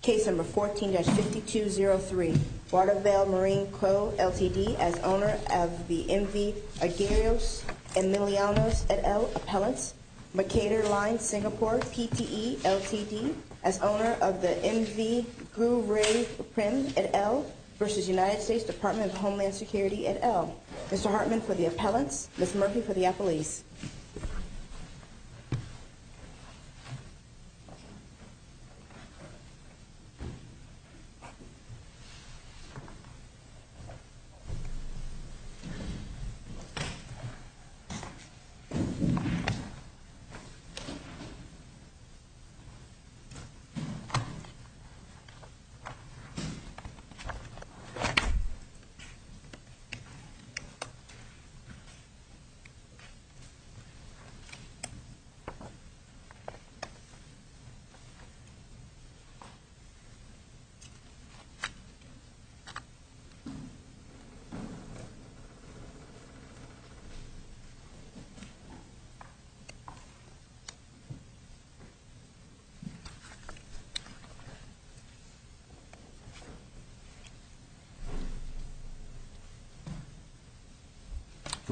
Case No. 14-5203, Watervale Marine Co., Ltd. as owner of the MV Aguirreos Emilianos et al. appellants, Makator Line, Singapore, PTE, Ltd. as owner of the MV Gu Ray Prim et al. v. United States Department of Homeland Security et al. Mr. Hartman for the appellants, Ms. Murphy for the appellees. Case No. 14-5203, Watervale Marine Co., Ltd. as owner of the MV Aguirreos Emilianos et al. Good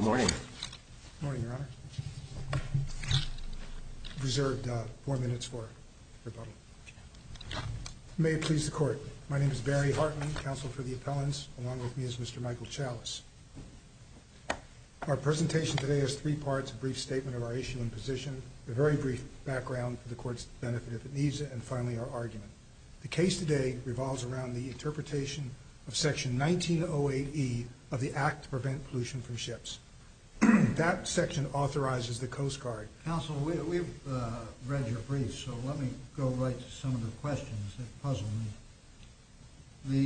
morning. Good morning, Your Honor. Reserved four minutes for rebuttal. May it please the Court. My name is Barry Hartman, counsel for the appellants, along with me is Mr. Michael Chalice. Our presentation today is three parts, a brief statement of our issue and position, a very brief background for the Court's benefit if it needs it, and finally our argument. The case today revolves around the interpretation of Section 1908E of the Act to Prevent Pollution from Ships. That section authorizes the Coast Guard. Counsel, we've read your brief, so let me go right to some of the questions that puzzle me.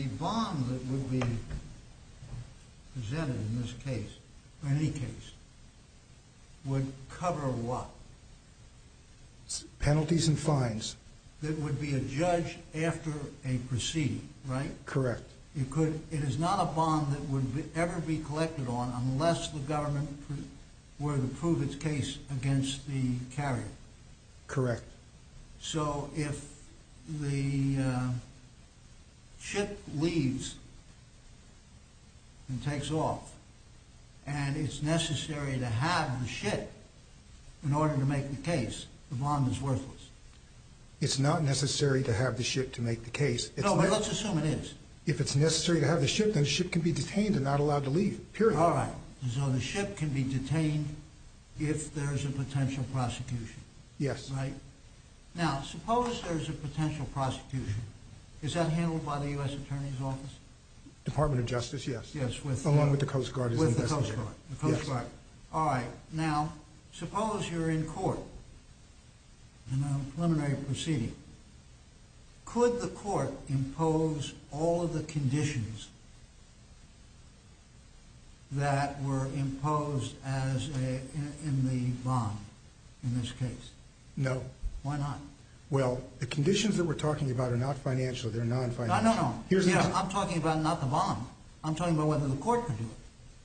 The bond that would be presented in this case, or any case, would cover what? Penalties and fines. That would be adjudged after a proceeding, right? Correct. It is not a bond that would ever be collected on unless the government were to prove its case against the carrier. Correct. So if the ship leaves and takes off and it's necessary to have the ship in order to make the case, the bond is worthless. It's not necessary to have the ship to make the case. No, but let's assume it is. If it's necessary to have the ship, then the ship can be detained and not allowed to leave, period. All right, so the ship can be detained if there's a potential prosecution. Yes. Now, suppose there's a potential prosecution. Is that handled by the U.S. Attorney's Office? Department of Justice, yes, along with the Coast Guard. With the Coast Guard. Yes. Could the court impose all of the conditions that were imposed in the bond in this case? No. Why not? Well, the conditions that we're talking about are not financial. They're non-financial. No, no, no. I'm talking about not the bond. I'm talking about whether the court can do it.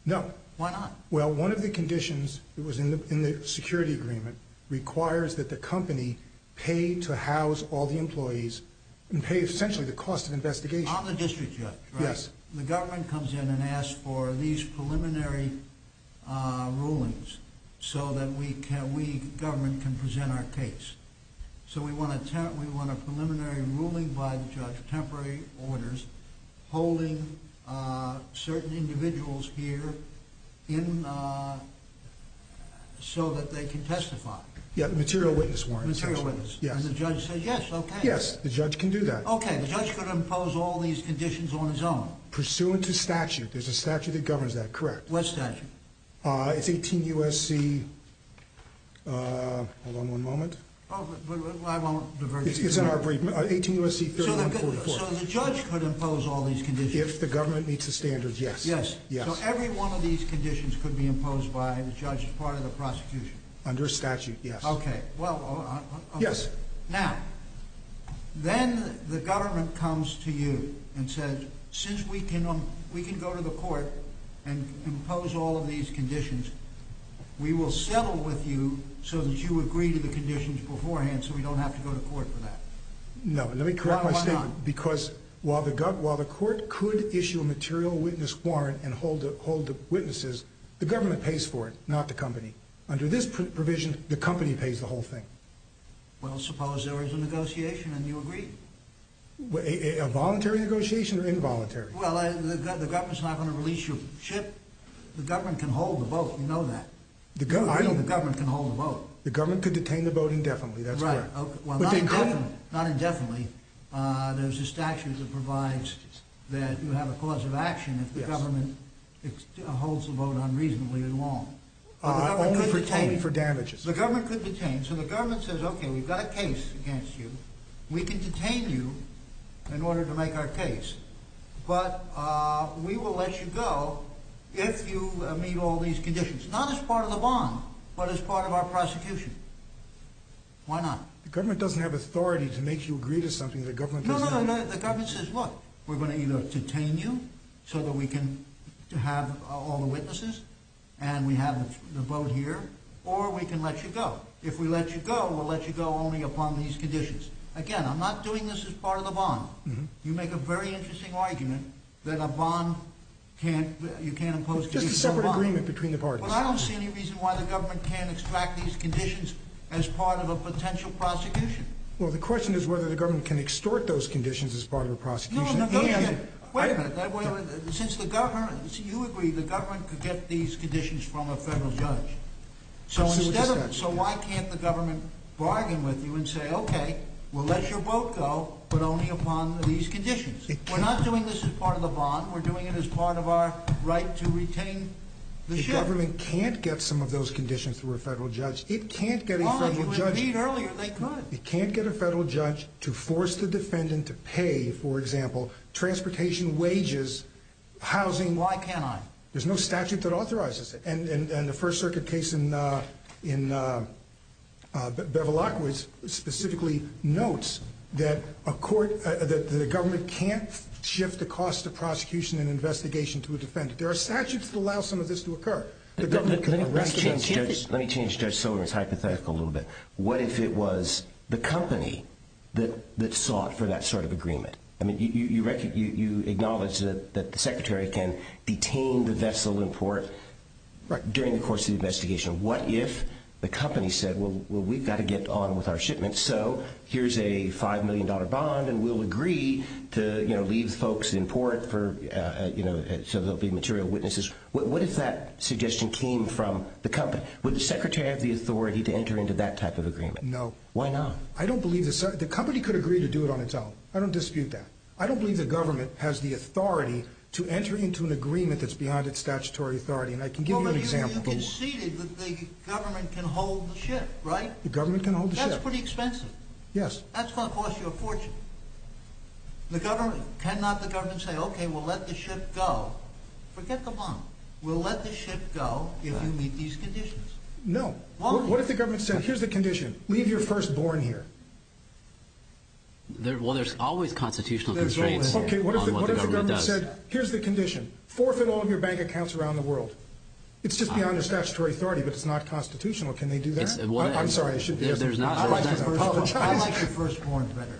No. Why not? Well, one of the conditions that was in the security agreement requires that the company pay to house all the employees and pay essentially the cost of investigation. On the district judge, right? Yes. The government comes in and asks for these preliminary rulings so that we government can present our case. So we want a preliminary ruling by the judge, temporary orders, holding certain individuals here so that they can testify. Yeah, material witness warrant. Material witness. Yes. And the judge says, yes, okay. Yes, the judge can do that. Okay, the judge could impose all these conditions on his own. Pursuant to statute. There's a statute that governs that, correct. What statute? It's 18 U.S.C. Hold on one moment. Oh, but I won't diverge. It's in our brief. 18 U.S.C. 3144. So the judge could impose all these conditions? If the government meets the standards, yes. Yes. So every one of these conditions could be imposed by the judge as part of the prosecution? Under statute, yes. Okay. Yes. Now, then the government comes to you and says, since we can go to the court and impose all of these conditions, we will settle with you so that you agree to the conditions beforehand so we don't have to go to court for that. No, let me correct my statement. Why not? Because while the court could issue a material witness warrant and hold the witnesses, the government pays for it, not the company. Under this provision, the company pays the whole thing. Well, suppose there is a negotiation and you agree. A voluntary negotiation or involuntary? Well, the government's not going to release your ship. The government can hold the boat, you know that. I mean the government can hold the boat. The government could detain the boat indefinitely, that's correct. Right. Well, not indefinitely. Not indefinitely. There's a statute that provides that you have a cause of action if the government holds the boat unreasonably long. Only for damages. The government could detain. So the government says, okay, we've got a case against you. We can detain you in order to make our case, but we will let you go if you meet all these conditions. Not as part of the bond, but as part of our prosecution. Why not? The government doesn't have authority to make you agree to something the government doesn't have. The government says, look, we're going to either detain you so that we can have all the witnesses and we have the boat here, or we can let you go. If we let you go, we'll let you go only upon these conditions. Again, I'm not doing this as part of the bond. You make a very interesting argument that a bond can't, you can't impose conditions on a bond. It's just a separate agreement between the parties. But I don't see any reason why the government can't extract these conditions as part of a potential prosecution. Well, the question is whether the government can extort those conditions as part of a prosecution. Wait a minute. Since you agree the government could get these conditions from a federal judge. So why can't the government bargain with you and say, okay, we'll let your boat go, but only upon these conditions? We're not doing this as part of the bond. We're doing it as part of our right to retain the ship. The government can't get some of those conditions through a federal judge. It can't get a federal judge to force the defendant to pay, for example, transportation wages, housing. Why can't I? There's no statute that authorizes it. And the First Circuit case in Bevilacqua specifically notes that the government can't shift the cost of prosecution and investigation to a defendant. There are statutes that allow some of this to occur. Let me change Judge Silverman's hypothetical a little bit. What if it was the company that sought for that sort of agreement? I mean, you acknowledge that the secretary can detain the vessel in port during the course of the investigation. What if the company said, well, we've got to get on with our shipment, so here's a $5 million bond, and we'll agree to leave folks in port so there'll be material witnesses. What if that suggestion came from the company? Would the secretary have the authority to enter into that type of agreement? No. Why not? I don't believe the company could agree to do it on its own. I don't dispute that. I don't believe the government has the authority to enter into an agreement that's beyond its statutory authority. And I can give you an example. You conceded that the government can hold the ship, right? The government can hold the ship. That's pretty expensive. Yes. That's going to cost you a fortune. The government, cannot the government say, okay, we'll let the ship go? Forget the bond. We'll let the ship go if you meet these conditions. No. What if the government said, here's the condition, leave your firstborn here? Well, there's always constitutional constraints on what the government does. Okay, what if the government said, here's the condition, forfeit all of your bank accounts around the world. It's just beyond your statutory authority, but it's not constitutional. Can they do that? I'm sorry, I shouldn't have asked that question. I'd like to apologize.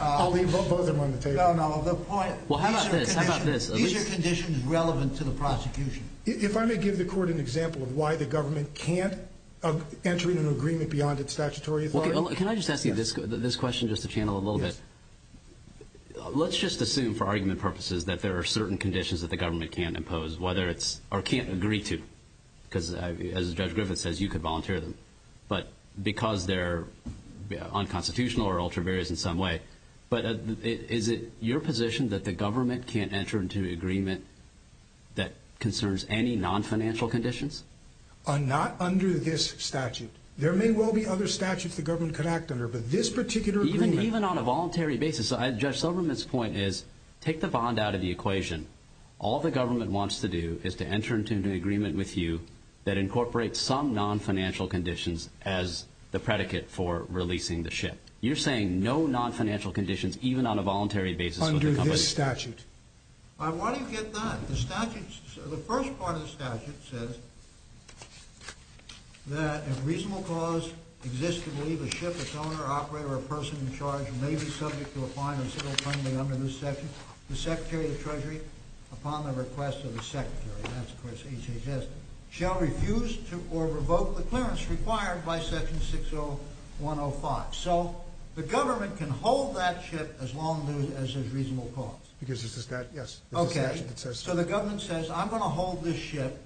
I'll leave both of them on the table. No, no, the point. Well, how about this? How about this? These are conditions relevant to the prosecution. If I may give the court an example of why the government can't enter into an agreement beyond its statutory authority. Can I just ask you this question just to channel a little bit? Yes. Let's just assume for argument purposes that there are certain conditions that the government can't impose, or can't agree to. Because, as Judge Griffith says, you could volunteer them. But because they're unconstitutional or ultra-various in some way. But is it your position that the government can't enter into an agreement that concerns any non-financial conditions? Not under this statute. There may well be other statutes the government could act under, but this particular agreement. Even on a voluntary basis. Judge Silverman's point is, take the bond out of the equation. All the government wants to do is to enter into an agreement with you that incorporates some non-financial conditions as the predicate for releasing the ship. You're saying no non-financial conditions even on a voluntary basis with the company? Under this statute. Why do you get that? The first part of the statute says that if reasonable cause exists to believe a ship, its owner, operator, or person in charge may be subject to a fine of civil penalty under this statute, the Secretary of the Treasury, upon the request of the Secretary, that's of course HHS, shall refuse to or revoke the clearance required by Section 60105. So the government can hold that ship as long as there's reasonable cause. Because this is that, yes. Okay. So the government says, I'm going to hold this ship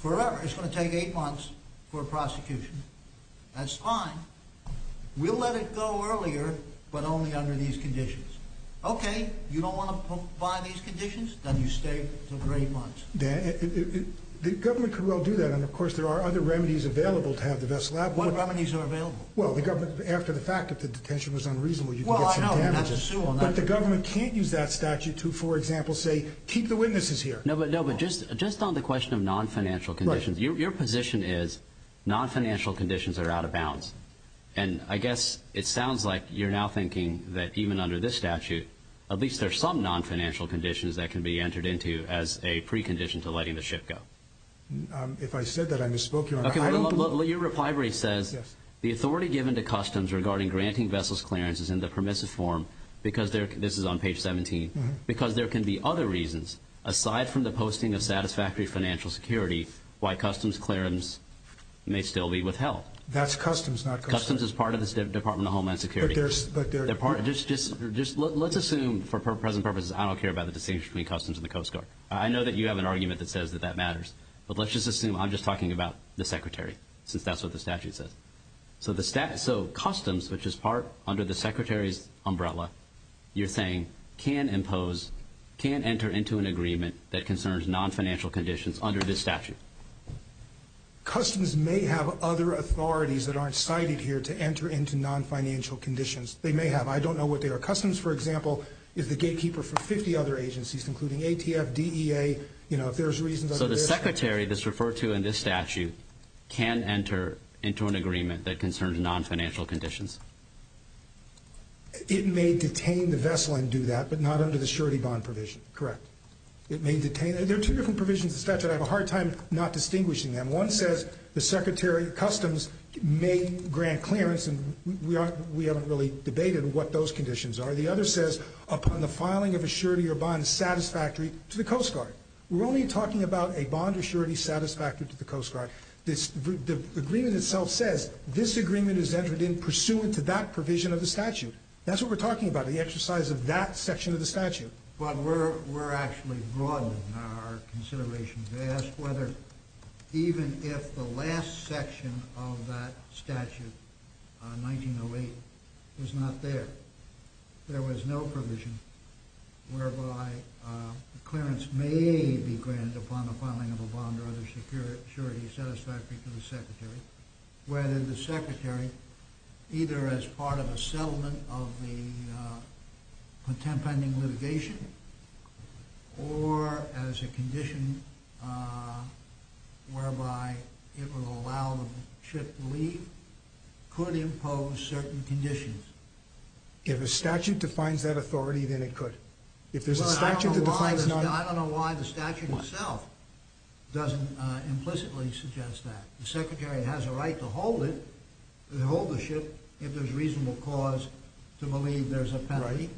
forever. It's going to take eight months for prosecution. That's fine. We'll let it go earlier, but only under these conditions. Okay. You don't want to buy these conditions? Then you stay for three months. The government could well do that, and of course there are other remedies available to have the vessel out. What remedies are available? Well, after the fact, if the detention was unreasonable, you could get some damages. Well, I know. But the government can't use that statute to, for example, say, keep the witnesses here. No, but just on the question of non-financial conditions, your position is non-financial conditions are out of bounds. And I guess it sounds like you're now thinking that even under this statute, at least there's some non-financial conditions that can be entered into as a precondition to letting the ship go. If I said that, I misspoke, Your Honor. Your reply really says, the authority given to customs regarding granting vessels clearances in the permissive form, because this is on page 17, because there can be other reasons aside from the posting of satisfactory financial security why customs clearances may still be withheld. That's customs, not customs. Customs is part of the Department of Homeland Security. But they're part of it. Let's assume, for present purposes, I don't care about the distinction between customs and the Coast Guard. I know that you have an argument that says that that matters. But let's just assume I'm just talking about the Secretary, since that's what the statute says. So customs, which is part under the Secretary's umbrella, you're saying, can enter into an agreement that concerns non-financial conditions under this statute. Customs may have other authorities that aren't cited here to enter into non-financial conditions. They may have. I don't know what they are. Customs, for example, is the gatekeeper for 50 other agencies, including ATF, DEA. You know, if there's reasons under this statute. So the Secretary that's referred to in this statute can enter into an agreement that concerns non-financial conditions. It may detain the vessel and do that, but not under the surety bond provision. Correct. It may detain. There are two different provisions of the statute. I have a hard time not distinguishing them. One says the Secretary, customs, may grant clearance, and we haven't really debated what those conditions are. The other says upon the filing of a surety or bond satisfactory to the Coast Guard. We're only talking about a bond surety satisfactory to the Coast Guard. The agreement itself says this agreement is entered in pursuant to that provision of the statute. That's what we're talking about, the exercise of that section of the statute. But we're actually broadening our consideration to ask whether, even if the last section of that statute, 1908, was not there, there was no provision whereby clearance may be granted upon the filing of a bond or other surety satisfactory to the Secretary, whether the Secretary, either as part of a settlement of the contempt pending litigation, or as a condition whereby it would allow the ship to leave, could impose certain conditions. If a statute defines that authority, then it could. If there's a statute that defines not... I don't know why the statute itself doesn't implicitly suggest that. The Secretary has a right to hold it, to hold the ship, if there's reasonable cause to believe there's a penalty.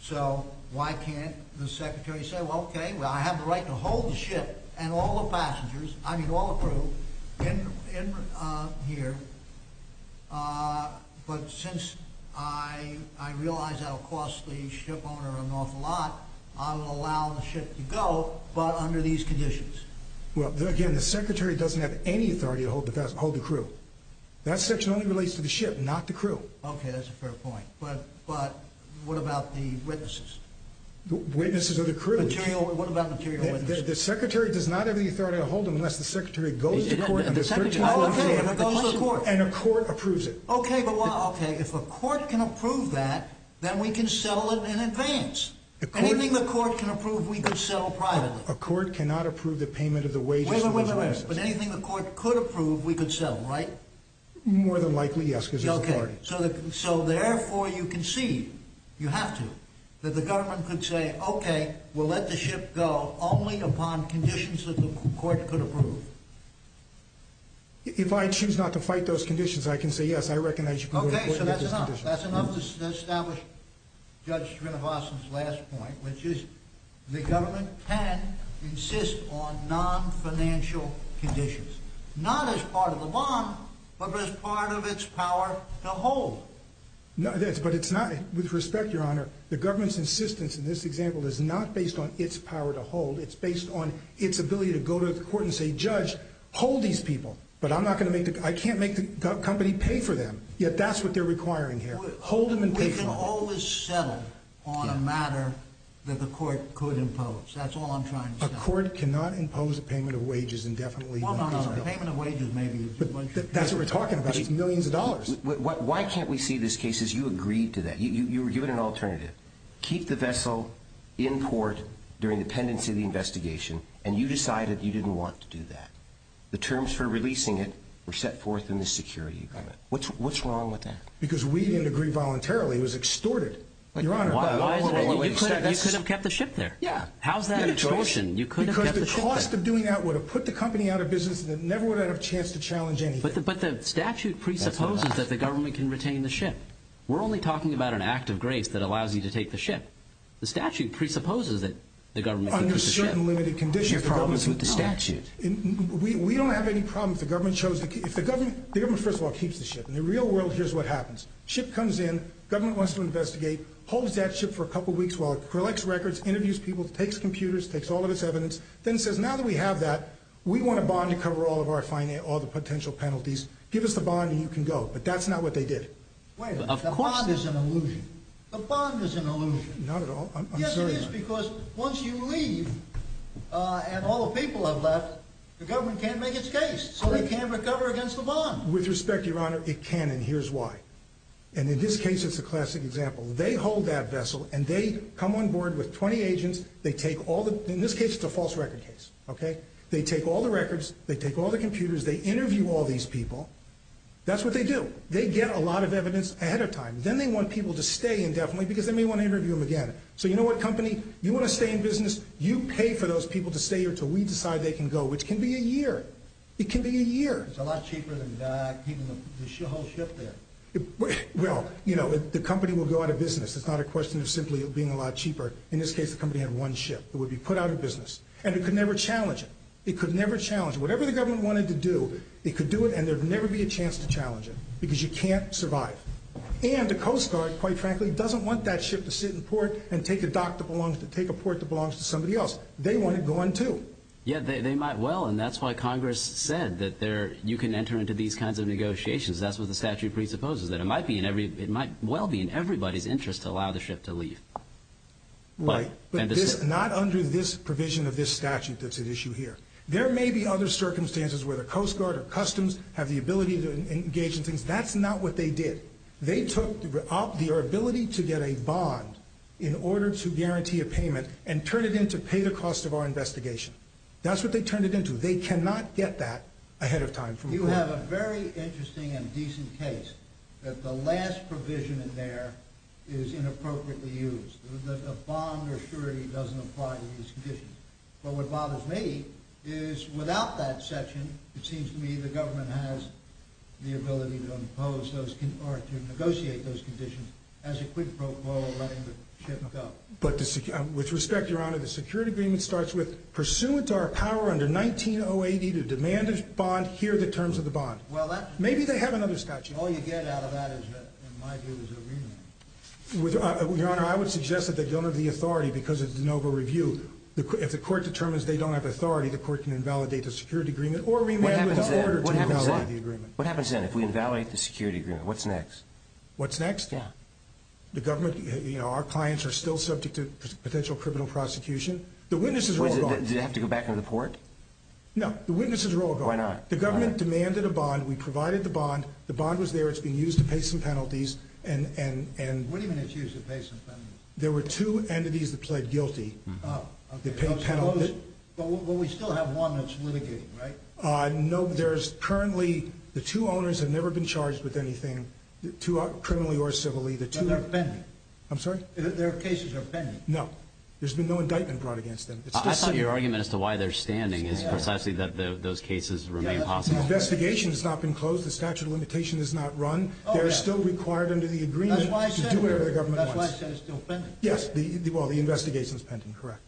So why can't the Secretary say, well, okay, I have the right to hold the ship and all the passengers, I mean all the crew, in here. But since I realize that'll cost the ship owner an awful lot, I will allow the ship to go, but under these conditions. Well, again, the Secretary doesn't have any authority to hold the crew. That section only relates to the ship, not the crew. Okay, that's a fair point. But what about the witnesses? Witnesses are the crew. What about material witnesses? The Secretary does not have the authority to hold them unless the Secretary goes to court on this 13th or 14th. Okay, if it goes to court. And a court approves it. Okay, but if a court can approve that, then we can settle it in advance. Anything the court can approve, we can settle privately. A court cannot approve the payment of the wages to those witnesses. Wait, wait, wait, but anything the court could approve, we could settle, right? More than likely, yes, because there's authority. Okay, so therefore you concede, you have to, that the government could say, okay, we'll let the ship go only upon conditions that the court could approve. If I choose not to fight those conditions, I can say, yes, I recognize you can go to court and get those conditions. Okay, so that's enough. That's enough to establish Judge Srinivasan's last point, which is the government can insist on non-financial conditions. Not as part of the bond, but as part of its power to hold. Yes, but it's not, with respect, Your Honor, the government's insistence in this example is not based on its power to hold. It's based on its ability to go to the court and say, Judge, hold these people, but I'm not going to make, I can't make the company pay for them. Yet that's what they're requiring here. Hold them and pay for them. We can always settle on a matter that the court could impose. That's all I'm trying to say. A court cannot impose a payment of wages indefinitely. Well, no, no, a payment of wages may be a good one. But that's what we're talking about. It's millions of dollars. Why can't we see this case as you agreed to that? You were given an alternative. Keep the vessel in port during the pendency of the investigation, and you decided you didn't want to do that. The terms for releasing it were set forth in the security agreement. What's wrong with that? Because we didn't agree voluntarily. It was extorted, Your Honor. You could have kept the ship there. How's that an extortion? Because the cost of doing that would have put the company out of business, and it never would have had a chance to challenge anything. But the statute presupposes that the government can retain the ship. We're only talking about an act of grace that allows you to take the ship. The statute presupposes that the government can keep the ship. We don't have any problems with the statute. We don't have any problems if the government chose to keep it. The government, first of all, keeps the ship. In the real world, here's what happens. The ship comes in, the government wants to investigate, holds that ship for a couple of weeks while it collects records, interviews people, takes computers, takes all of its evidence, then says, now that we have that, we want a bond to cover all of the potential penalties. Give us the bond and you can go. But that's not what they did. The bond is an illusion. The bond is an illusion. Not at all. I'm sorry, Your Honor. It is because once you leave and all the people have left, the government can't make its case. So they can't recover against the bond. With respect, Your Honor, it can and here's why. And in this case, it's a classic example. They hold that vessel and they come on board with 20 agents. They take all the, in this case, it's a false record case, okay? They take all the records. They take all the computers. They interview all these people. That's what they do. They get a lot of evidence ahead of time. Then they want people to stay indefinitely because they may want to interview them again. So you know what, company? You want to stay in business. You pay for those people to stay here until we decide they can go, which can be a year. It can be a year. It's a lot cheaper than keeping the whole ship there. Well, you know, the company will go out of business. It's not a question of simply being a lot cheaper. In this case, the company had one ship that would be put out of business. And it could never challenge it. It could never challenge it. Whatever the government wanted to do, it could do it and there would never be a chance to challenge it because you can't survive. And the Coast Guard, quite frankly, doesn't want that ship to sit in port and take a dock that belongs to somebody else. They want it gone, too. Yeah, they might well, and that's why Congress said that you can enter into these kinds of negotiations. That's what the statute presupposes, that it might well be in everybody's interest to allow the ship to leave. Right, but not under this provision of this statute that's at issue here. There may be other circumstances where the Coast Guard or Customs have the ability to engage in things. That's not what they did. They took the ability to get a bond in order to guarantee a payment and turned it in to pay the cost of our investigation. That's what they turned it into. They cannot get that ahead of time. You have a very interesting and decent case that the last provision in there is inappropriately used. The bond or surety doesn't apply to these conditions. But what bothers me is without that section, it seems to me the government has the ability to impose those or to negotiate those conditions as a quid pro quo in letting the ship go. But with respect, Your Honor, the security agreement starts with, pursuant to our power under 19080 to demand a bond, here are the terms of the bond. Maybe they have another statute. All you get out of that, in my view, is a remand. Your Honor, I would suggest that they don't have the authority because it's an over-review. If the court determines they don't have authority, the court can invalidate the security agreement or remand without order to invalidate the agreement. What happens then? What happens then if we invalidate the security agreement? What's next? What's next? Yeah. The government, you know, our clients are still subject to potential criminal prosecution. The witnesses are all gone. Do they have to go back to the port? No. The witnesses are all gone. Why not? The government demanded a bond. We provided the bond. The bond was there. It's being used to pay some penalties. What do you mean it's used to pay some penalties? There were two entities that pled guilty. Oh. But we still have one that's litigating, right? No, there's currently, the two owners have never been charged with anything, criminally or civilly. But they're pending. I'm sorry? Their cases are pending. No. There's been no indictment brought against them. I thought your argument as to why they're standing is precisely that those cases remain possible. The investigation has not been closed. The statute of limitation has not run. They're still required under the agreement to do whatever the government wants. That's why I said it's still pending. Yes. Well, the investigation is pending. Correct.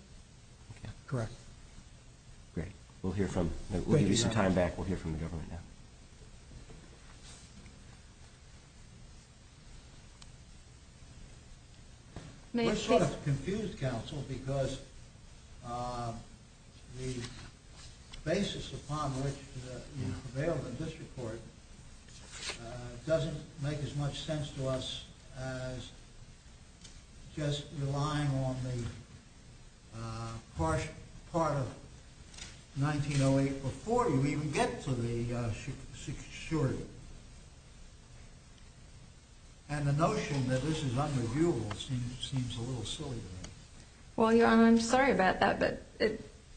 Okay. Correct. Great. We'll give you some time back. We'll hear from the government now. We're sort of confused, counsel, because the basis upon which you prevailed in this report doesn't make as much sense to us as just relying on the part of 1908 before you even get to the six-surety. And the notion that this is under-viewable seems a little silly to me. Well, Your Honor, I'm sorry about that,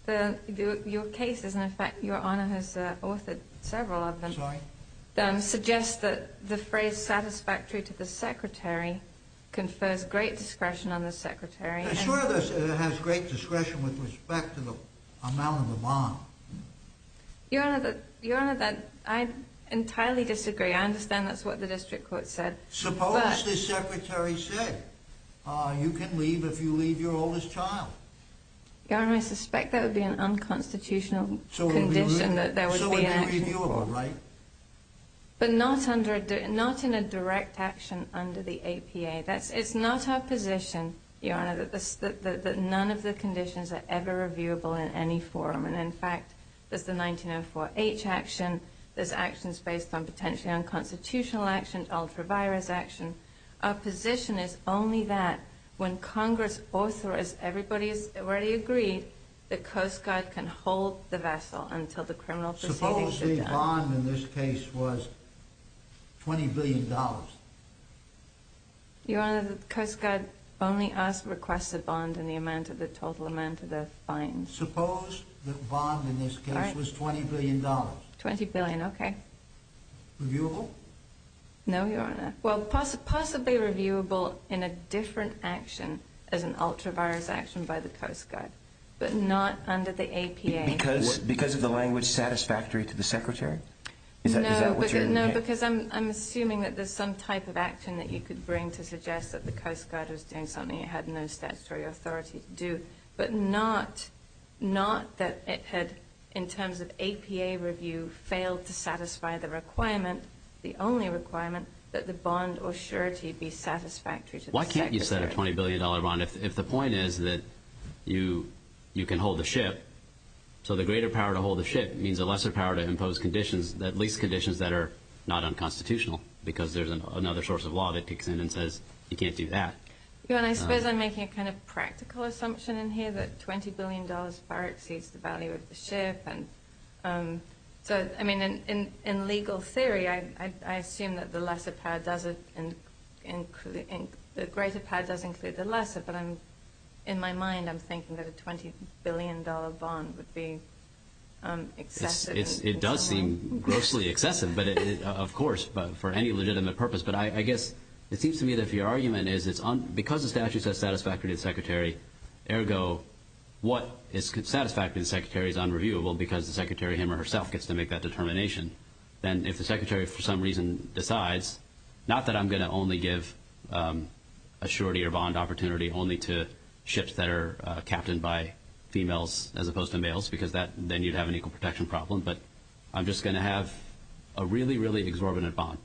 but your case is, in fact, Your Honor has authored several of them. I'm sorry? Suggests that the phrase satisfactory to the secretary confers great discretion on the secretary. I'm sure it has great discretion with respect to the amount of the bond. Your Honor, I entirely disagree. I understand that's what the district court said. Suppose the secretary said you can leave if you leave your oldest child. Your Honor, I suspect that would be an unconstitutional condition that there would be an action. So it would be reviewable, right? But not in a direct action under the APA. It's not our position, Your Honor, that none of the conditions are ever reviewable in any form. And, in fact, there's the 1904H action. There's actions based on potentially unconstitutional action, ultra-virus action. Our position is only that when Congress authorizes, everybody has already agreed, the Coast Guard can hold the vessel until the criminal proceedings are done. Suppose the bond in this case was $20 billion. Your Honor, the Coast Guard only asked to request a bond in the total amount of the fine. Suppose the bond in this case was $20 billion. $20 billion, okay. Reviewable? No, Your Honor. Well, possibly reviewable in a different action as an ultra-virus action by the Coast Guard, but not under the APA. Because of the language satisfactory to the secretary? No, because I'm assuming that there's some type of action that you could bring to suggest that the Coast Guard was doing something it had no statutory authority to do, but not that it had, in terms of APA review, failed to satisfy the requirement, the only requirement that the bond or surety be satisfactory to the secretary. Why can't you set a $20 billion bond if the point is that you can hold the ship? So the greater power to hold the ship means a lesser power to impose conditions, at least conditions that are not unconstitutional, because there's another source of law that kicks in and says you can't do that. Your Honor, I suppose I'm making a kind of practical assumption in here that $20 billion far exceeds the value of the ship. And so, I mean, in legal theory, I assume that the lesser power does include the lesser, but in my mind I'm thinking that a $20 billion bond would be excessive. It does seem grossly excessive, of course, for any legitimate purpose. But I guess it seems to me that if your argument is because the statute says satisfactory to the secretary, ergo what is satisfactory to the secretary is unreviewable because the secretary him or herself gets to make that determination, then if the secretary for some reason decides not that I'm going to only give a surety or bond opportunity only to ships that are captained by females as opposed to males because then you'd have an equal protection problem, but I'm just going to have a really, really exorbitant bond.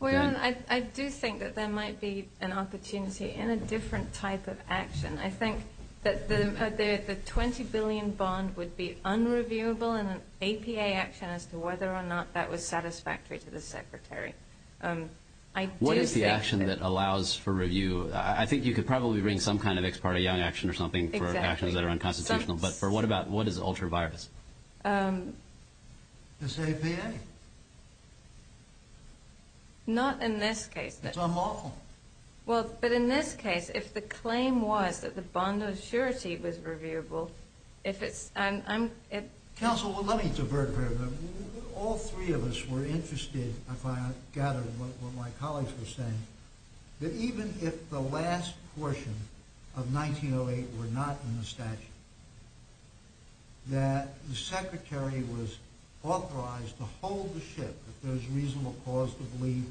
Your Honor, I do think that there might be an opportunity in a different type of action. I think that the $20 billion bond would be unreviewable in an APA action as to whether or not that was satisfactory to the secretary. What is the action that allows for review? I think you could probably bring some kind of ex parte young action or something for actions that are unconstitutional, but what is ultra-virus? It's APA. Not in this case. It's unlawful. Well, but in this case, if the claim was that the bond of surety was reviewable, if it's... Counsel, let me divert a bit. All three of us were interested, if I gather what my colleagues were saying, that even if the last portion of 1908 were not in the statute, that the secretary was authorized to hold the ship, if there's reasonable cause to believe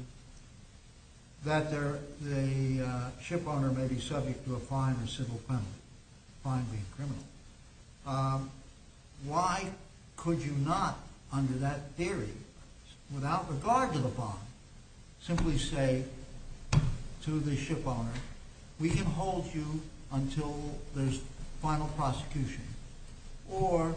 that the ship owner may be subject to a fine or civil penalty, fine being criminal, why could you not, under that theory, without regard to the bond, simply say to the ship owner, we can hold you until there's final prosecution, or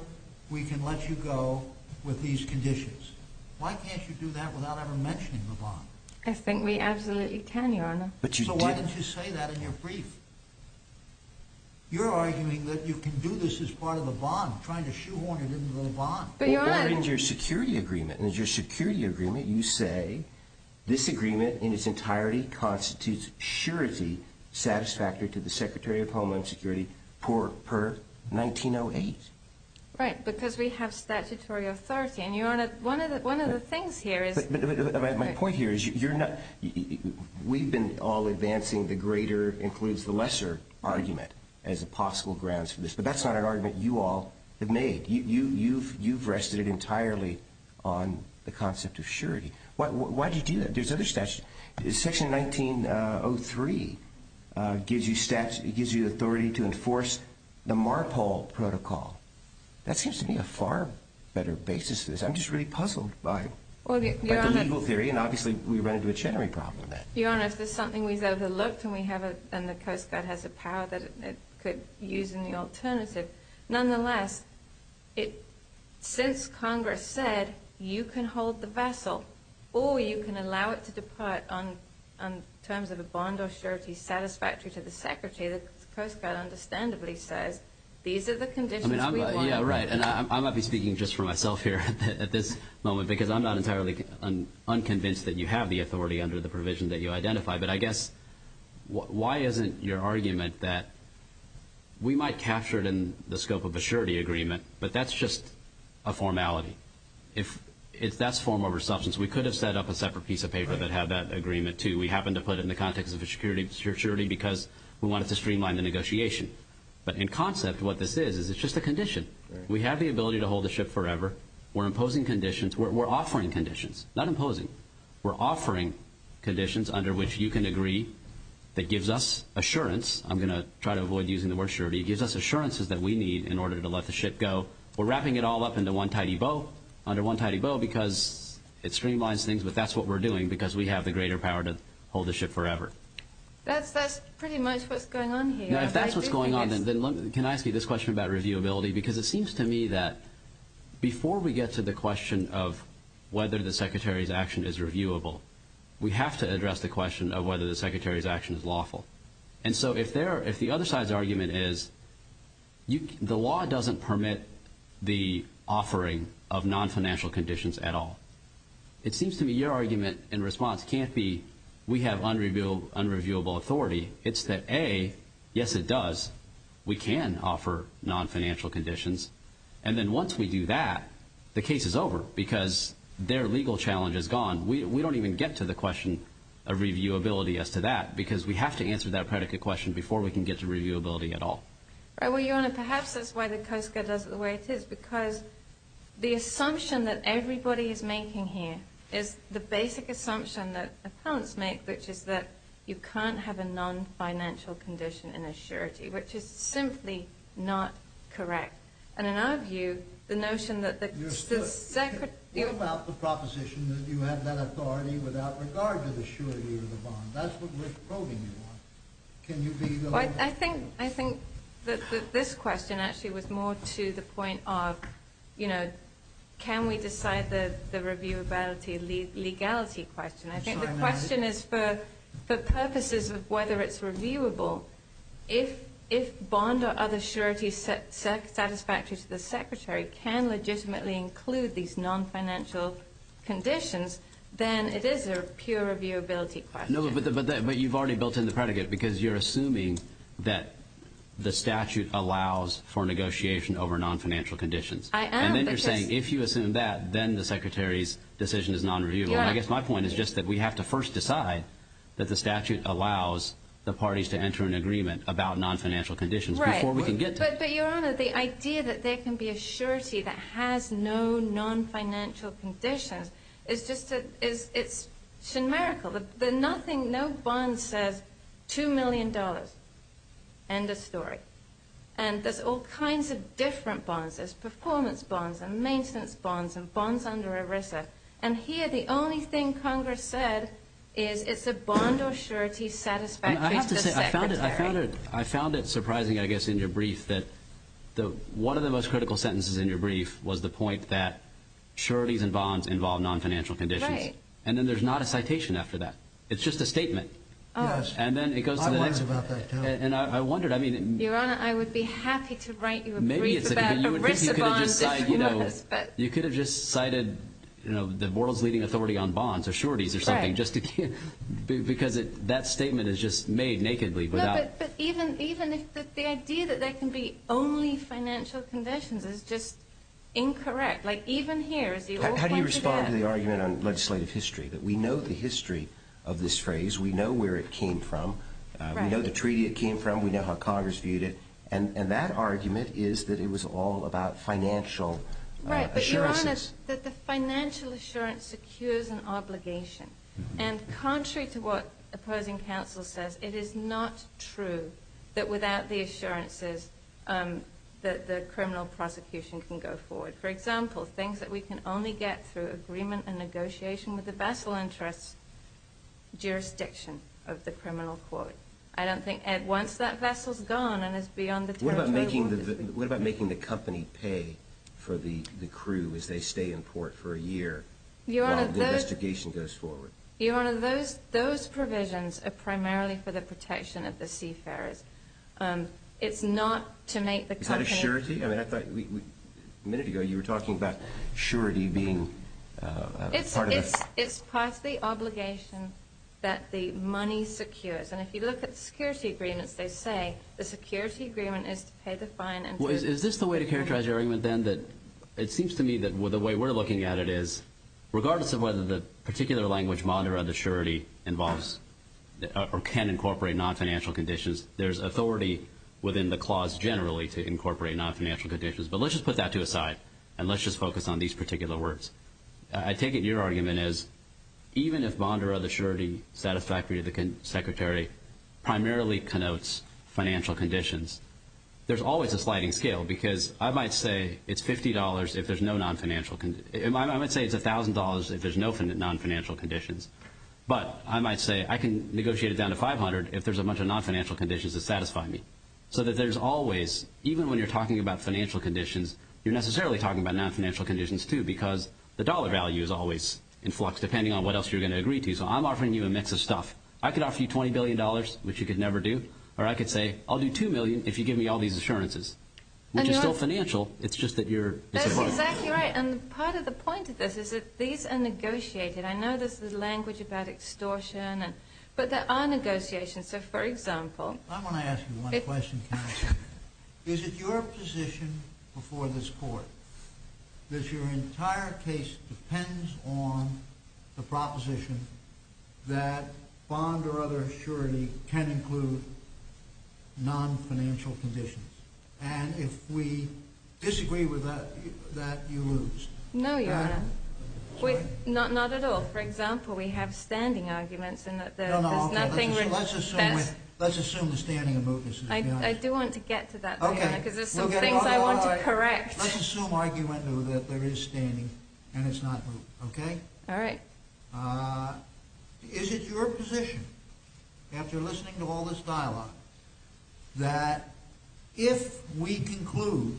we can let you go with these conditions? Why can't you do that without ever mentioning the bond? I think we absolutely can, Your Honor. So why don't you say that in your brief? You're arguing that you can do this as part of the bond, trying to shoehorn it into the bond. Or in your security agreement. In your security agreement, you say this agreement in its entirety constitutes surety satisfactory to the Secretary of Homeland Security per 1908. Right, because we have statutory authority. And, Your Honor, one of the things here is... But my point here is you're not... We've been all advancing the greater includes the lesser argument as a possible grounds for this. But that's not an argument you all have made. You've rested it entirely on the concept of surety. Why do you do that? There's other statutes. Section 1903 gives you the authority to enforce the MARPOL protocol. That seems to me a far better basis for this. I'm just really puzzled by the legal theory. And, obviously, we run into a Chenery problem with that. Your Honor, if there's something we've overlooked, and the Coast Guard has a power that it could use in the alternative, nonetheless, since Congress said you can hold the vessel or you can allow it to depart on terms of a bond of surety satisfactory to the Secretary, the Coast Guard understandably says these are the conditions we want. Yeah, right, and I might be speaking just for myself here at this moment because I'm not entirely unconvinced that you have the authority under the provision that you identify. But I guess why isn't your argument that we might capture it in the scope of a surety agreement, but that's just a formality. If that's form over substance, we could have set up a separate piece of paper that had that agreement, too. We happened to put it in the context of a surety because we wanted to streamline the negotiation. But in concept, what this is is it's just a condition. We have the ability to hold the ship forever. We're imposing conditions. We're offering conditions, not imposing. We're offering conditions under which you can agree that gives us assurance. I'm going to try to avoid using the word surety. It gives us assurances that we need in order to let the ship go. We're wrapping it all up under one tidy bow because it streamlines things, but that's what we're doing because we have the greater power to hold the ship forever. That's pretty much what's going on here. If that's what's going on, then can I ask you this question about reviewability? It seems to me that before we get to the question of whether the Secretary's action is reviewable, we have to address the question of whether the Secretary's action is lawful. If the other side's argument is the law doesn't permit the offering of nonfinancial conditions at all, it seems to me your argument in response can't be we have unreviewable authority. It's that, A, yes, it does. We can offer nonfinancial conditions. And then once we do that, the case is over because their legal challenge is gone. We don't even get to the question of reviewability as to that because we have to answer that predicate question before we can get to reviewability at all. Your Honor, perhaps that's why the COSCA does it the way it is because the assumption that everybody is making here is the basic assumption that appellants make, which is that you can't have a nonfinancial condition in a surety, which is simply not correct. And in our view, the notion that the Secretary… You're still… What about the proposition that you have that authority without regard to the surety of the bond? That's what we're probing you on. Can you be… I think that this question actually was more to the point of, you know, can we decide the reviewability legality question? I think the question is for purposes of whether it's reviewable. If bond or other surety satisfactory to the Secretary can legitimately include these nonfinancial conditions, then it is a pure reviewability question. No, but you've already built in the predicate because you're assuming that the statute allows for negotiation over nonfinancial conditions. I am because… And then you're saying if you assume that, then the Secretary's decision is nonreviewable. I guess my point is just that we have to first decide that the statute allows the parties to enter an agreement about nonfinancial conditions before we can get to it. Right. But, Your Honor, the idea that there can be a surety that has no nonfinancial conditions is just a… It's a miracle. There are nothing… No bond says $2 million. End of story. And there's all kinds of different bonds. There's performance bonds and maintenance bonds and bonds under ERISA. And here the only thing Congress said is it's a bond or surety satisfactory to the Secretary. I have to say, I found it surprising, I guess, in your brief that one of the most critical sentences in your brief was the point that sureties and bonds involve nonfinancial conditions. Right. And then there's not a citation after that. It's just a statement. Yes. And then it goes to the next… I wondered about that, too. And I wondered, I mean… Your Honor, I would be happy to write you a brief about ERISA bonds. You could have just cited the world's leading authority on bonds, a surety or something. Right. Because that statement is just made nakedly without… No, but even the idea that there can be only financial conditions is just incorrect. Like, even here is the… How do you respond to the argument on legislative history? We know the history of this phrase. We know where it came from. Right. We know the treaty it came from. We know how Congress viewed it. And that argument is that it was all about financial assurances. Right, but Your Honor, that the financial assurance secures an obligation. And contrary to what opposing counsel says, it is not true that without the assurances that the criminal prosecution can go forward. For example, things that we can only get through agreement and negotiation with the vessel interests, jurisdiction of the criminal court. I don't think once that vessel's gone and is beyond the territory… What about making the company pay for the crew as they stay in port for a year while the investigation goes forward? Your Honor, those provisions are primarily for the protection of the seafarers. It's not to make the company… Is that a surety? I mean, I thought a minute ago you were talking about surety being part of the… It's part of the obligation that the money secures. And if you look at the security agreements, they say the security agreement is to pay the fine and… Is this the way to characterize your argument, then, that it seems to me that the way we're looking at it is regardless of whether the particular language, mandra, the surety, involves or can incorporate non-financial conditions, there's authority within the clause generally to incorporate non-financial conditions. But let's just put that to a side and let's just focus on these particular words. I take it your argument is even if mandra, the surety satisfactory to the secretary, primarily connotes financial conditions, there's always a sliding scale because I might say it's $50 if there's no non-financial… I might say it's $1,000 if there's no non-financial conditions. But I might say I can negotiate it down to $500 if there's a bunch of non-financial conditions that satisfy me. So that there's always, even when you're talking about financial conditions, you're necessarily talking about non-financial conditions too because the dollar value is always in flux depending on what else you're going to agree to. So I'm offering you a mix of stuff. I could offer you $20 billion, which you could never do, or I could say I'll do $2 million if you give me all these assurances, which is still financial, it's just that you're… That's exactly right, and part of the point of this is that these are negotiated. I know this is language about extortion, but there are negotiations. I want to ask you one question, counsel. Is it your position before this court that your entire case depends on the proposition that bond or other assurity can include non-financial conditions? And if we disagree with that, you lose. No, Your Honor. Not at all. For example, we have standing arguments and there's nothing… Let's assume the standing of mootness. I do want to get to that point because there's some things I want to correct. Let's assume argument that there is standing and it's not moot, okay? All right. Is it your position, after listening to all this dialogue, that if we conclude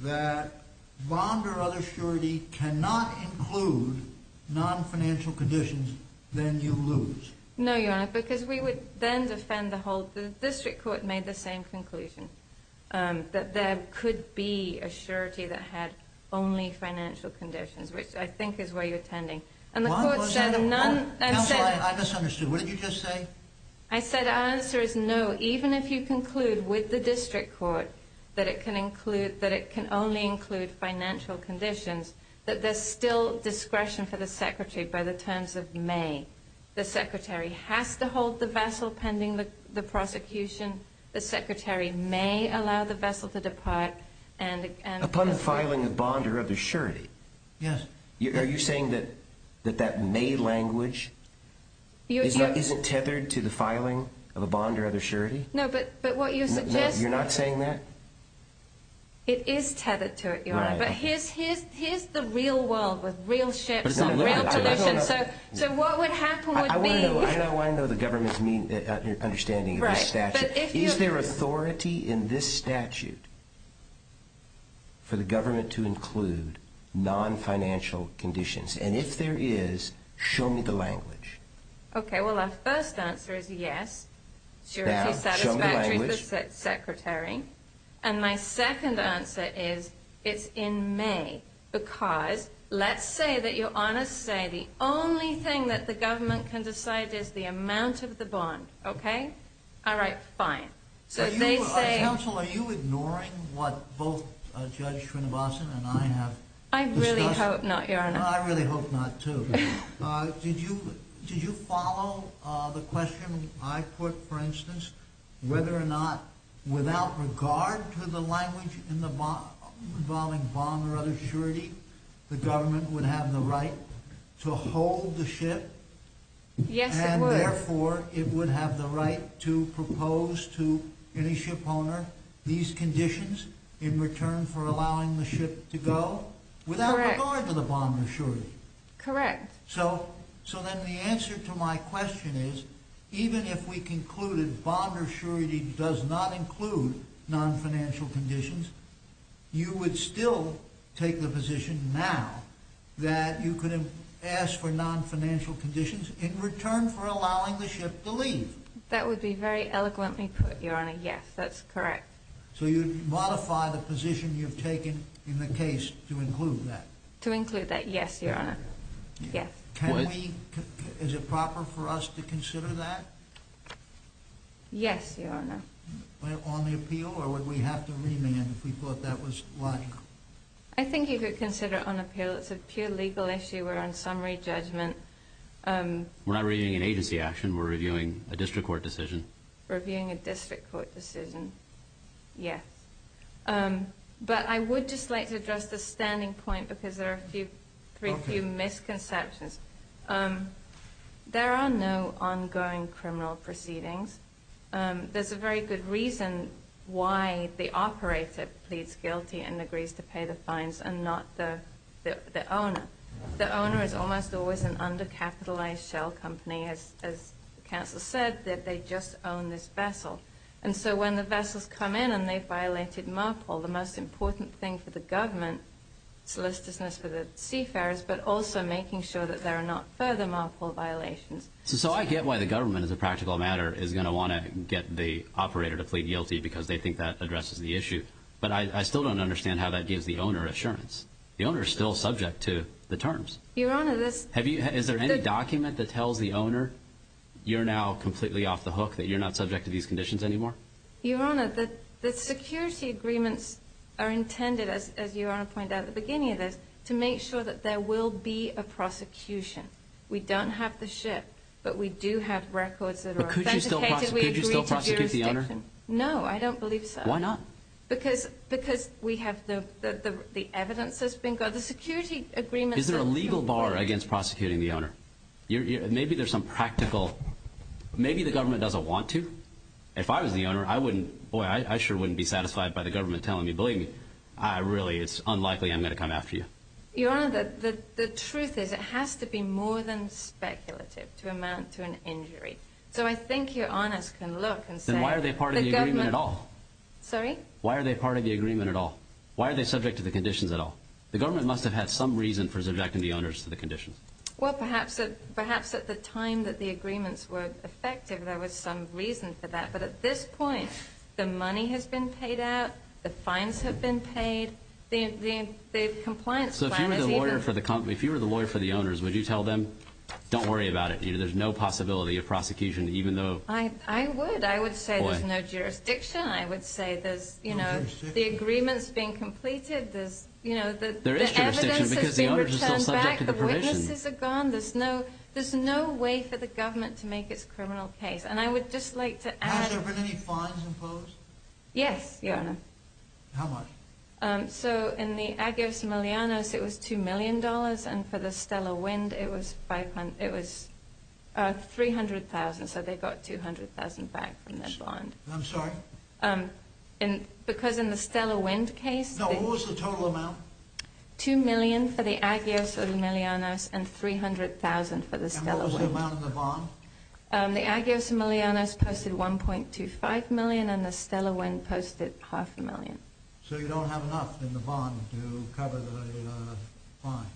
that bond or other assurity cannot include non-financial conditions, then you lose? No, Your Honor, because we would then defend the whole… The district court made the same conclusion, that there could be assurity that had only financial conditions, which I think is where you're tending. And the court said none… Counsel, I misunderstood. What did you just say? I said the answer is no. So even if you conclude with the district court that it can only include financial conditions, that there's still discretion for the secretary by the terms of may. The secretary has to hold the vessel pending the prosecution. The secretary may allow the vessel to depart and… Upon the filing of bond or other assurity… Yes. Are you saying that that may language isn't tethered to the filing of a bond or other assurity? No, but what you suggest… You're not saying that? It is tethered to it, Your Honor. But here's the real world with real ships and real conditions, so what would happen would be… And if there is, show me the language. Okay, well, our first answer is yes. Now, show me the language. Assurity satisfactory for the secretary. And my second answer is it's in may, because let's say that Your Honor say the only thing that the government can decide is the amount of the bond, okay? All right, fine. So they say… Counsel, are you ignoring what both Judge Srinivasan and I have discussed? I really hope not, Your Honor. I really hope not, too. Did you follow the question I put, for instance, whether or not without regard to the language involving bond or other assurity, the government would have the right to hold the ship? Yes, it would. Therefore, it would have the right to propose to any ship owner these conditions in return for allowing the ship to go without regard to the bond or assurity. Correct. So then the answer to my question is, even if we concluded bond or assurity does not include non-financial conditions, you would still take the position now that you could ask for non-financial conditions in return for allowing the ship to leave? That would be very eloquently put, Your Honor. Yes, that's correct. So you'd modify the position you've taken in the case to include that? To include that, yes, Your Honor. Is it proper for us to consider that? Yes, Your Honor. On the appeal, or would we have to remand if we thought that was like? I think you could consider it on appeal. It's a pure legal issue. We're on summary judgment. We're not reviewing an agency action. We're reviewing a district court decision. Reviewing a district court decision, yes. But I would just like to address the standing point because there are a few misconceptions. There are no ongoing criminal proceedings. There's a very good reason why the operator pleads guilty and agrees to pay the fines and not the owner. The owner is almost always an undercapitalized shell company, as counsel said, that they just own this vessel. And so when the vessels come in and they've violated MARPOL, the most important thing for the government, solicitousness for the seafarers, but also making sure that there are not further MARPOL violations. So I get why the government, as a practical matter, is going to want to get the operator to plead guilty because they think that addresses the issue. But I still don't understand how that gives the owner assurance. The owner is still subject to the terms. Your Honor, this. Your Honor, the security agreements are intended, as Your Honor pointed out at the beginning of this, to make sure that there will be a prosecution. We don't have the ship, but we do have records that are authenticated. But could you still prosecute the owner? No, I don't believe so. Why not? Because we have the evidence that's been got. The security agreements that we have. Is there a legal bar against prosecuting the owner? Maybe there's some practical. Maybe the government doesn't want to. If I was the owner, I wouldn't. Boy, I sure wouldn't be satisfied by the government telling me, believe me, really, it's unlikely I'm going to come after you. Your Honor, the truth is it has to be more than speculative to amount to an injury. So I think Your Honors can look and say the government. Then why are they part of the agreement at all? Sorry? Why are they part of the agreement at all? Why are they subject to the conditions at all? The government must have had some reason for subjecting the owners to the conditions. Well, perhaps at the time that the agreements were effective, there was some reason for that. But at this point, the money has been paid out. The fines have been paid. The compliance plan is even— So if you were the lawyer for the owners, would you tell them, don't worry about it? There's no possibility of prosecution even though— I would. I would say there's no jurisdiction. I would say there's, you know, the agreement's being completed. There is jurisdiction because the owners are still subject to the conditions. The witnesses are gone. There's no way for the government to make its criminal case. And I would just like to add— Has there been any fines imposed? Yes, Your Honor. How much? So in the Agios Melianos, it was $2 million. And for the Stellar Wind, it was $300,000. So they got $200,000 back from their bond. I'm sorry? Because in the Stellar Wind case— No, what was the total amount? $2 million for the Agios Melianos and $300,000 for the Stellar Wind. And what was the amount in the bond? The Agios Melianos posted $1.25 million, and the Stellar Wind posted half a million. So you don't have enough in the bond to cover the fines?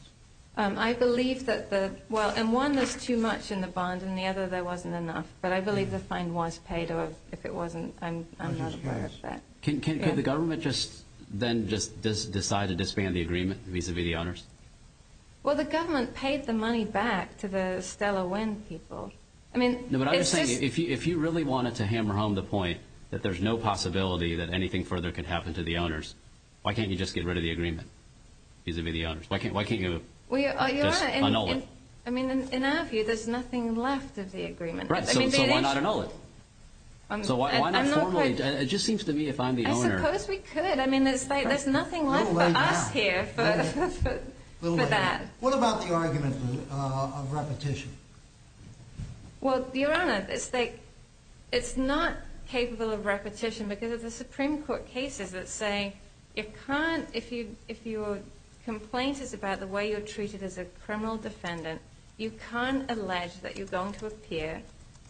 I believe that the—well, and one, there's too much in the bond, and the other, there wasn't enough. But I believe the fine was paid. If it wasn't, I'm not aware of that. Could the government then just decide to disband the agreement vis-à-vis the owners? Well, the government paid the money back to the Stellar Wind people. No, but I'm just saying, if you really wanted to hammer home the point that there's no possibility that anything further could happen to the owners, why can't you just get rid of the agreement vis-à-vis the owners? Why can't you just annul it? I mean, in our view, there's nothing left of the agreement. Right, so why not annul it? So why not formally—it just seems to me, if I'm the owner— I suppose we could. I mean, there's nothing left for us here for that. What about the argument of repetition? Well, Your Honor, it's not capable of repetition because of the Supreme Court cases that say you can't— if your complaint is about the way you're treated as a criminal defendant, you can't allege that you're going to appear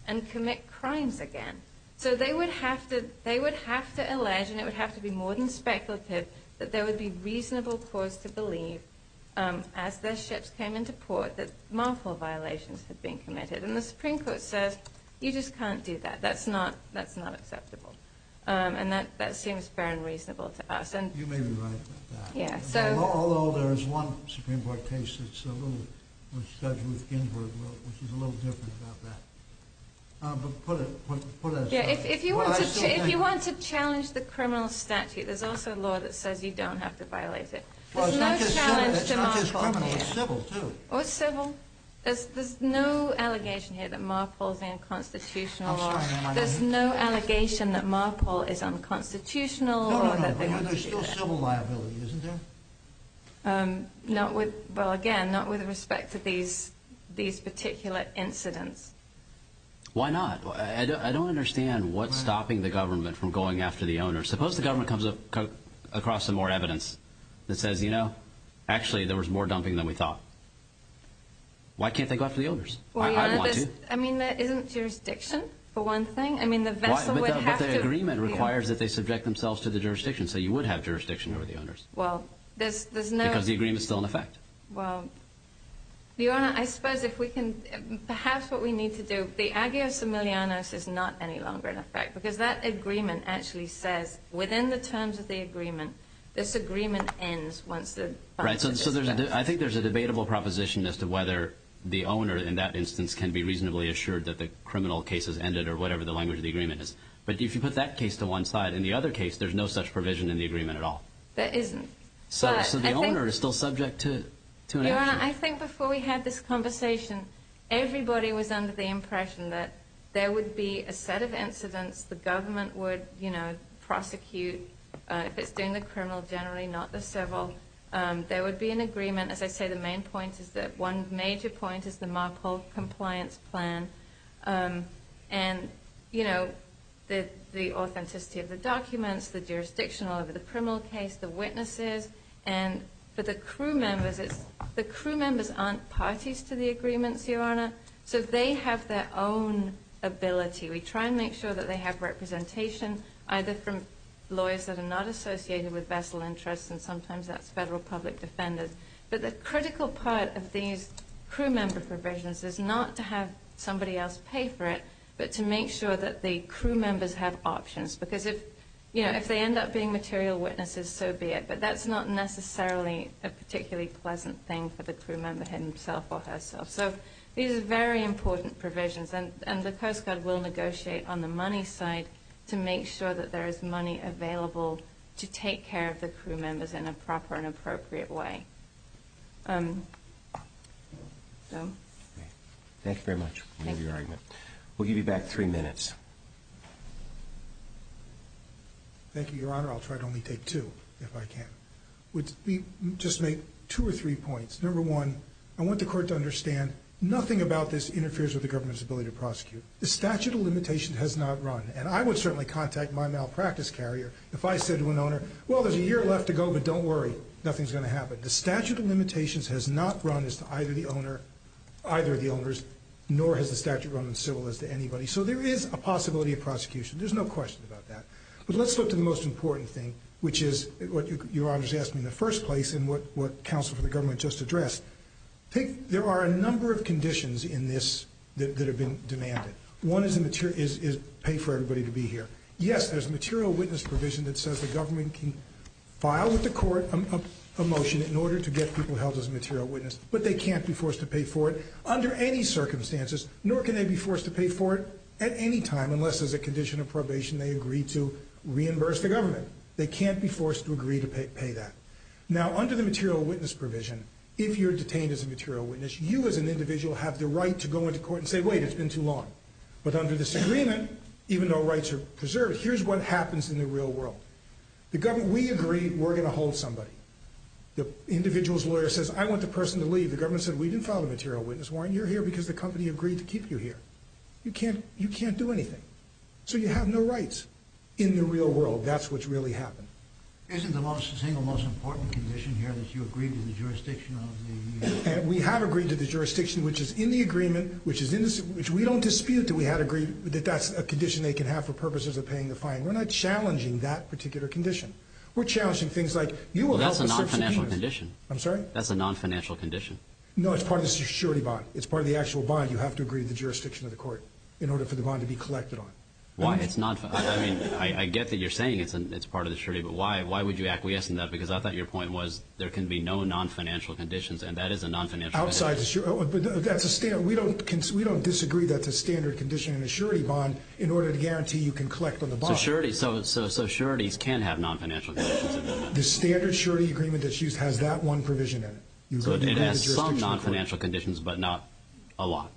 and commit crimes again. So they would have to allege, and it would have to be more than speculative, that there would be reasonable cause to believe, as their ships came into port, that marital violations had been committed. And the Supreme Court says, you just can't do that. That's not acceptable. And that seems fair and reasonable to us. You may be right about that. Although there is one Supreme Court case that's a little— which Judge Ruth Ginsburg wrote, which is a little different about that. But put that aside. If you want to challenge the criminal statute, there's also a law that says you don't have to violate it. There's no challenge to Marpol here. It's not just criminal. It's civil, too. Or civil. There's no allegation here that Marpol is unconstitutional. There's no allegation that Marpol is unconstitutional or that they want to do that. And there's still civil liability, isn't there? Not with—well, again, not with respect to these particular incidents. Why not? I don't understand what's stopping the government from going after the owners. Suppose the government comes across some more evidence that says, you know, actually there was more dumping than we thought. Why can't they go after the owners? I'd want to. I mean, that isn't jurisdiction, for one thing. I mean, the vessel would have to— Well, there's no— Because the agreement's still in effect. Well, Your Honor, I suppose if we can—perhaps what we need to do— the agio similianos is not any longer in effect because that agreement actually says, within the terms of the agreement, this agreement ends once the— Right, so I think there's a debatable proposition as to whether the owner, in that instance, can be reasonably assured that the criminal case has ended or whatever the language of the agreement is. But if you put that case to one side and the other case, there's no such provision in the agreement at all. There isn't. So the owner is still subject to an action. Your Honor, I think before we had this conversation, everybody was under the impression that there would be a set of incidents the government would, you know, prosecute if it's doing the criminal generally, not the civil. There would be an agreement. As I say, the main point is that one major point is the Marpole compliance plan. And, you know, the authenticity of the documents, the jurisdiction over the criminal case, the witnesses. And for the crew members, it's—the crew members aren't parties to the agreements, Your Honor, so they have their own ability. We try and make sure that they have representation, either from lawyers that are not associated with vassal interests, and sometimes that's federal public defenders. But the critical part of these crew member provisions is not to have somebody else pay for it, but to make sure that the crew members have options. Because if, you know, if they end up being material witnesses, so be it. But that's not necessarily a particularly pleasant thing for the crew member himself or herself. So these are very important provisions, and the Coast Guard will negotiate on the money side to make sure that there is money available to take care of the crew members in a proper and appropriate way. Thank you very much for your argument. We'll give you back three minutes. Thank you, Your Honor. I'll try to only take two, if I can. We'll just make two or three points. Number one, I want the Court to understand, nothing about this interferes with the government's ability to prosecute. The statute of limitations has not run, and I would certainly contact my malpractice carrier if I said to an owner, well, there's a year left to go, but don't worry, nothing's going to happen. The statute of limitations has not run as to either the owner, either of the owners, nor has the statute run in civil as to anybody. So there is a possibility of prosecution. There's no question about that. But let's look to the most important thing, which is what Your Honor has asked me in the first place and what counsel for the government just addressed. There are a number of conditions in this that have been demanded. One is pay for everybody to be here. Yes, there's a material witness provision that says the government can file with the court a motion in order to get people held as a material witness, but they can't be forced to pay for it under any circumstances, nor can they be forced to pay for it at any time unless there's a condition of probation they agree to reimburse the government. They can't be forced to agree to pay that. Now, under the material witness provision, if you're detained as a material witness, you as an individual have the right to go into court and say, wait, wait, it's been too long. But under this agreement, even though rights are preserved, here's what happens in the real world. We agree we're going to hold somebody. The individual's lawyer says, I want the person to leave. The government said, we didn't file a material witness warrant. You're here because the company agreed to keep you here. You can't do anything. So you have no rights in the real world. That's what's really happened. Isn't the single most important condition here that you agree to the jurisdiction of the union? We have agreed to the jurisdiction, which is in the agreement, which we don't dispute that we had agreed that that's a condition they can have for purposes of paying the fine. We're not challenging that particular condition. We're challenging things like you will help us serve the union. Well, that's a non-financial condition. I'm sorry? That's a non-financial condition. No, it's part of the surety bond. It's part of the actual bond. You have to agree to the jurisdiction of the court in order for the bond to be collected on. Why? I mean, I get that you're saying it's part of the surety, but why would you acquiesce in that? Because I thought your point was there can be no non-financial conditions, and that is a non-financial condition. We don't disagree that's a standard condition in a surety bond in order to guarantee you can collect on the bond. So sureties can have non-financial conditions. The standard surety agreement that's used has that one provision in it. It has some non-financial conditions, but not a lot.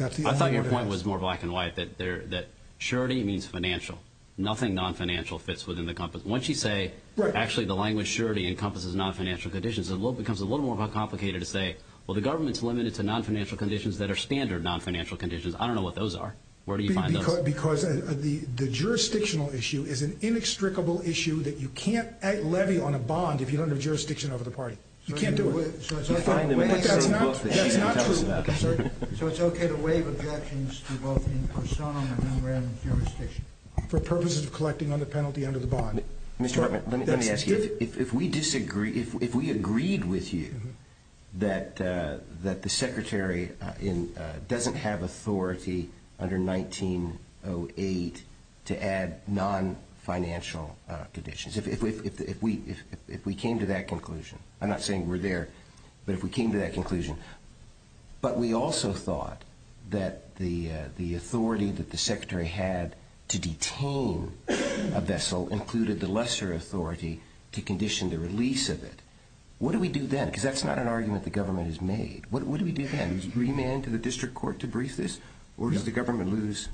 I thought your point was more black and white, that surety means financial. Nothing non-financial fits within the compass. Once you say, actually, the language surety encompasses non-financial conditions, it becomes a little more complicated to say, well, the government's limited to non-financial conditions that are standard non-financial conditions. I don't know what those are. Where do you find those? Because the jurisdictional issue is an inextricable issue that you can't levy on a bond if you don't have jurisdiction over the party. You can't do it. So it's okay to waive objections to both in persona and under the jurisdiction for purposes of collecting on the penalty under the bond. Mr. Hartman, let me ask you. If we agreed with you that the Secretary doesn't have authority under 1908 to add non-financial conditions, if we came to that conclusion, I'm not saying we're there, but if we came to that conclusion, but we also thought that the authority that the Secretary had to detain a vessel included the lesser authority to condition the release of it, what do we do then? Because that's not an argument the government has made. What do we do then? Remand to the district court to brief this? Or does the government lose?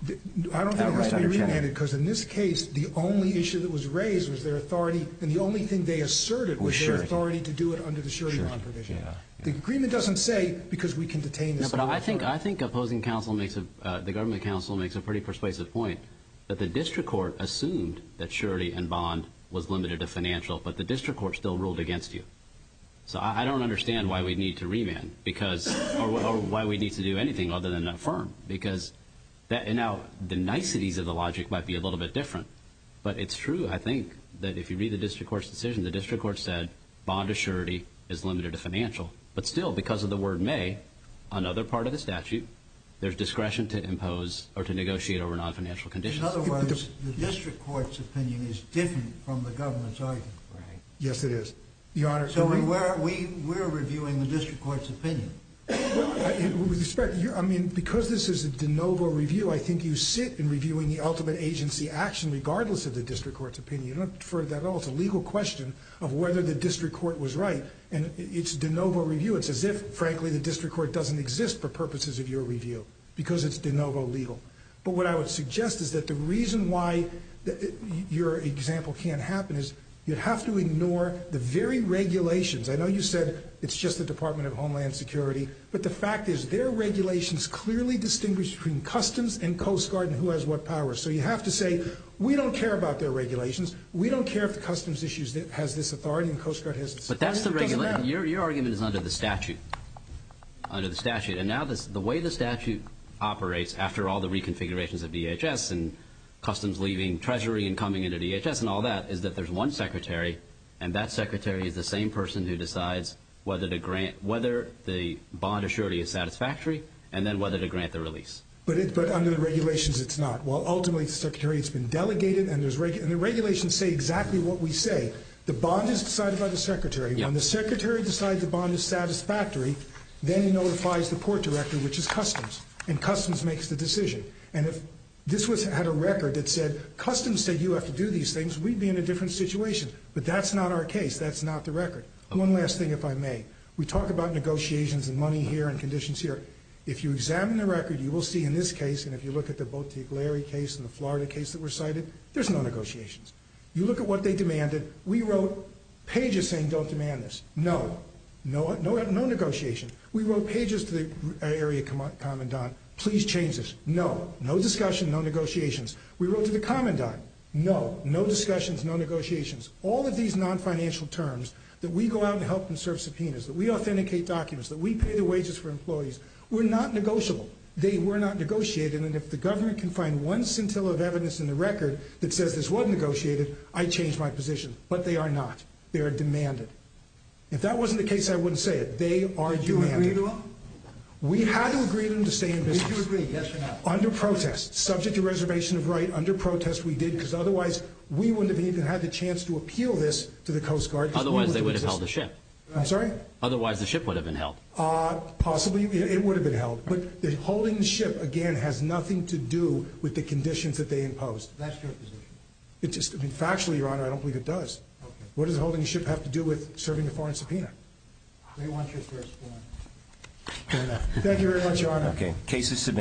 I don't think it must be remanded because in this case, the only issue that was raised was their authority, and the only thing they asserted was their authority to do it under the surety bond provision. The agreement doesn't say because we can detain this vessel. No, but I think opposing counsel makes a – the government counsel makes a pretty persuasive point that the district court assumed that surety and bond was limited to financial, but the district court still ruled against you. So I don't understand why we need to remand because – or why we need to do anything other than affirm because now the niceties of the logic might be a little bit different, but it's true, I think, that if you read the district court's decision, the district court said bond to surety is limited to financial, but still because of the word may, another part of the statute, there's discretion to impose or to negotiate over non-financial conditions. In other words, the district court's opinion is different from the government's argument. Right. Yes, it is. Your Honor – So we're reviewing the district court's opinion. Well, I mean, because this is a de novo review, I think you sit in reviewing the ultimate agency action regardless of the district court's opinion. You don't defer to that at all. It's a legal question of whether the district court was right, and it's de novo review. It's as if, frankly, the district court doesn't exist for purposes of your review because it's de novo legal. But what I would suggest is that the reason why your example can't happen is you have to ignore the very regulations. I know you said it's just the Department of Homeland Security, but the fact is their regulations clearly distinguish between customs and Coast Guard and who has what power. So you have to say we don't care about their regulations. We don't care if the customs issue has this authority and Coast Guard has this authority. But that's the regulation. Your argument is under the statute, under the statute. And now the way the statute operates after all the reconfigurations of DHS and customs leaving Treasury and coming into DHS and all that is that there's one secretary, and that secretary is the same person who decides whether the bond assurity is satisfactory and then whether to grant the release. But under the regulations, it's not. Well, ultimately, the secretary has been delegated, and the regulations say exactly what we say. The bond is decided by the secretary. When the secretary decides the bond is satisfactory, then he notifies the port director, which is customs, and customs makes the decision. And if this had a record that said customs said you have to do these things, we'd be in a different situation. But that's not our case. That's not the record. One last thing, if I may. We talk about negotiations and money here and conditions here. If you examine the record, you will see in this case, and if you look at the Bottiglieri case and the Florida case that were cited, there's no negotiations. You look at what they demanded. We wrote pages saying don't demand this. No. No negotiation. We wrote pages to the area commandant, please change this. No. No discussion. No negotiations. We wrote to the commandant. No. No discussions. No negotiations. All of these non-financial terms that we go out and help them serve subpoenas, that we authenticate documents, that we pay the wages for employees, were not negotiable. They were not negotiated. And if the government can find one scintilla of evidence in the record that says this wasn't negotiated, I change my position. But they are not. They are demanded. If that wasn't the case, I wouldn't say it. They are demanded. Did you agree to them? We had to agree to them to stay in business. Did you agree, yes or no? Under protest, subject to reservation of right, under protest we did, because otherwise we wouldn't have even had the chance to appeal this to the Coast Guard. Otherwise they would have held the ship. I'm sorry? Otherwise the ship would have been held. Possibly it would have been held. But holding the ship, again, has nothing to do with the conditions that they imposed. That's your position. Factually, Your Honor, I don't believe it does. What does holding the ship have to do with serving a foreign subpoena? They want you to respond. Thank you very much, Your Honor.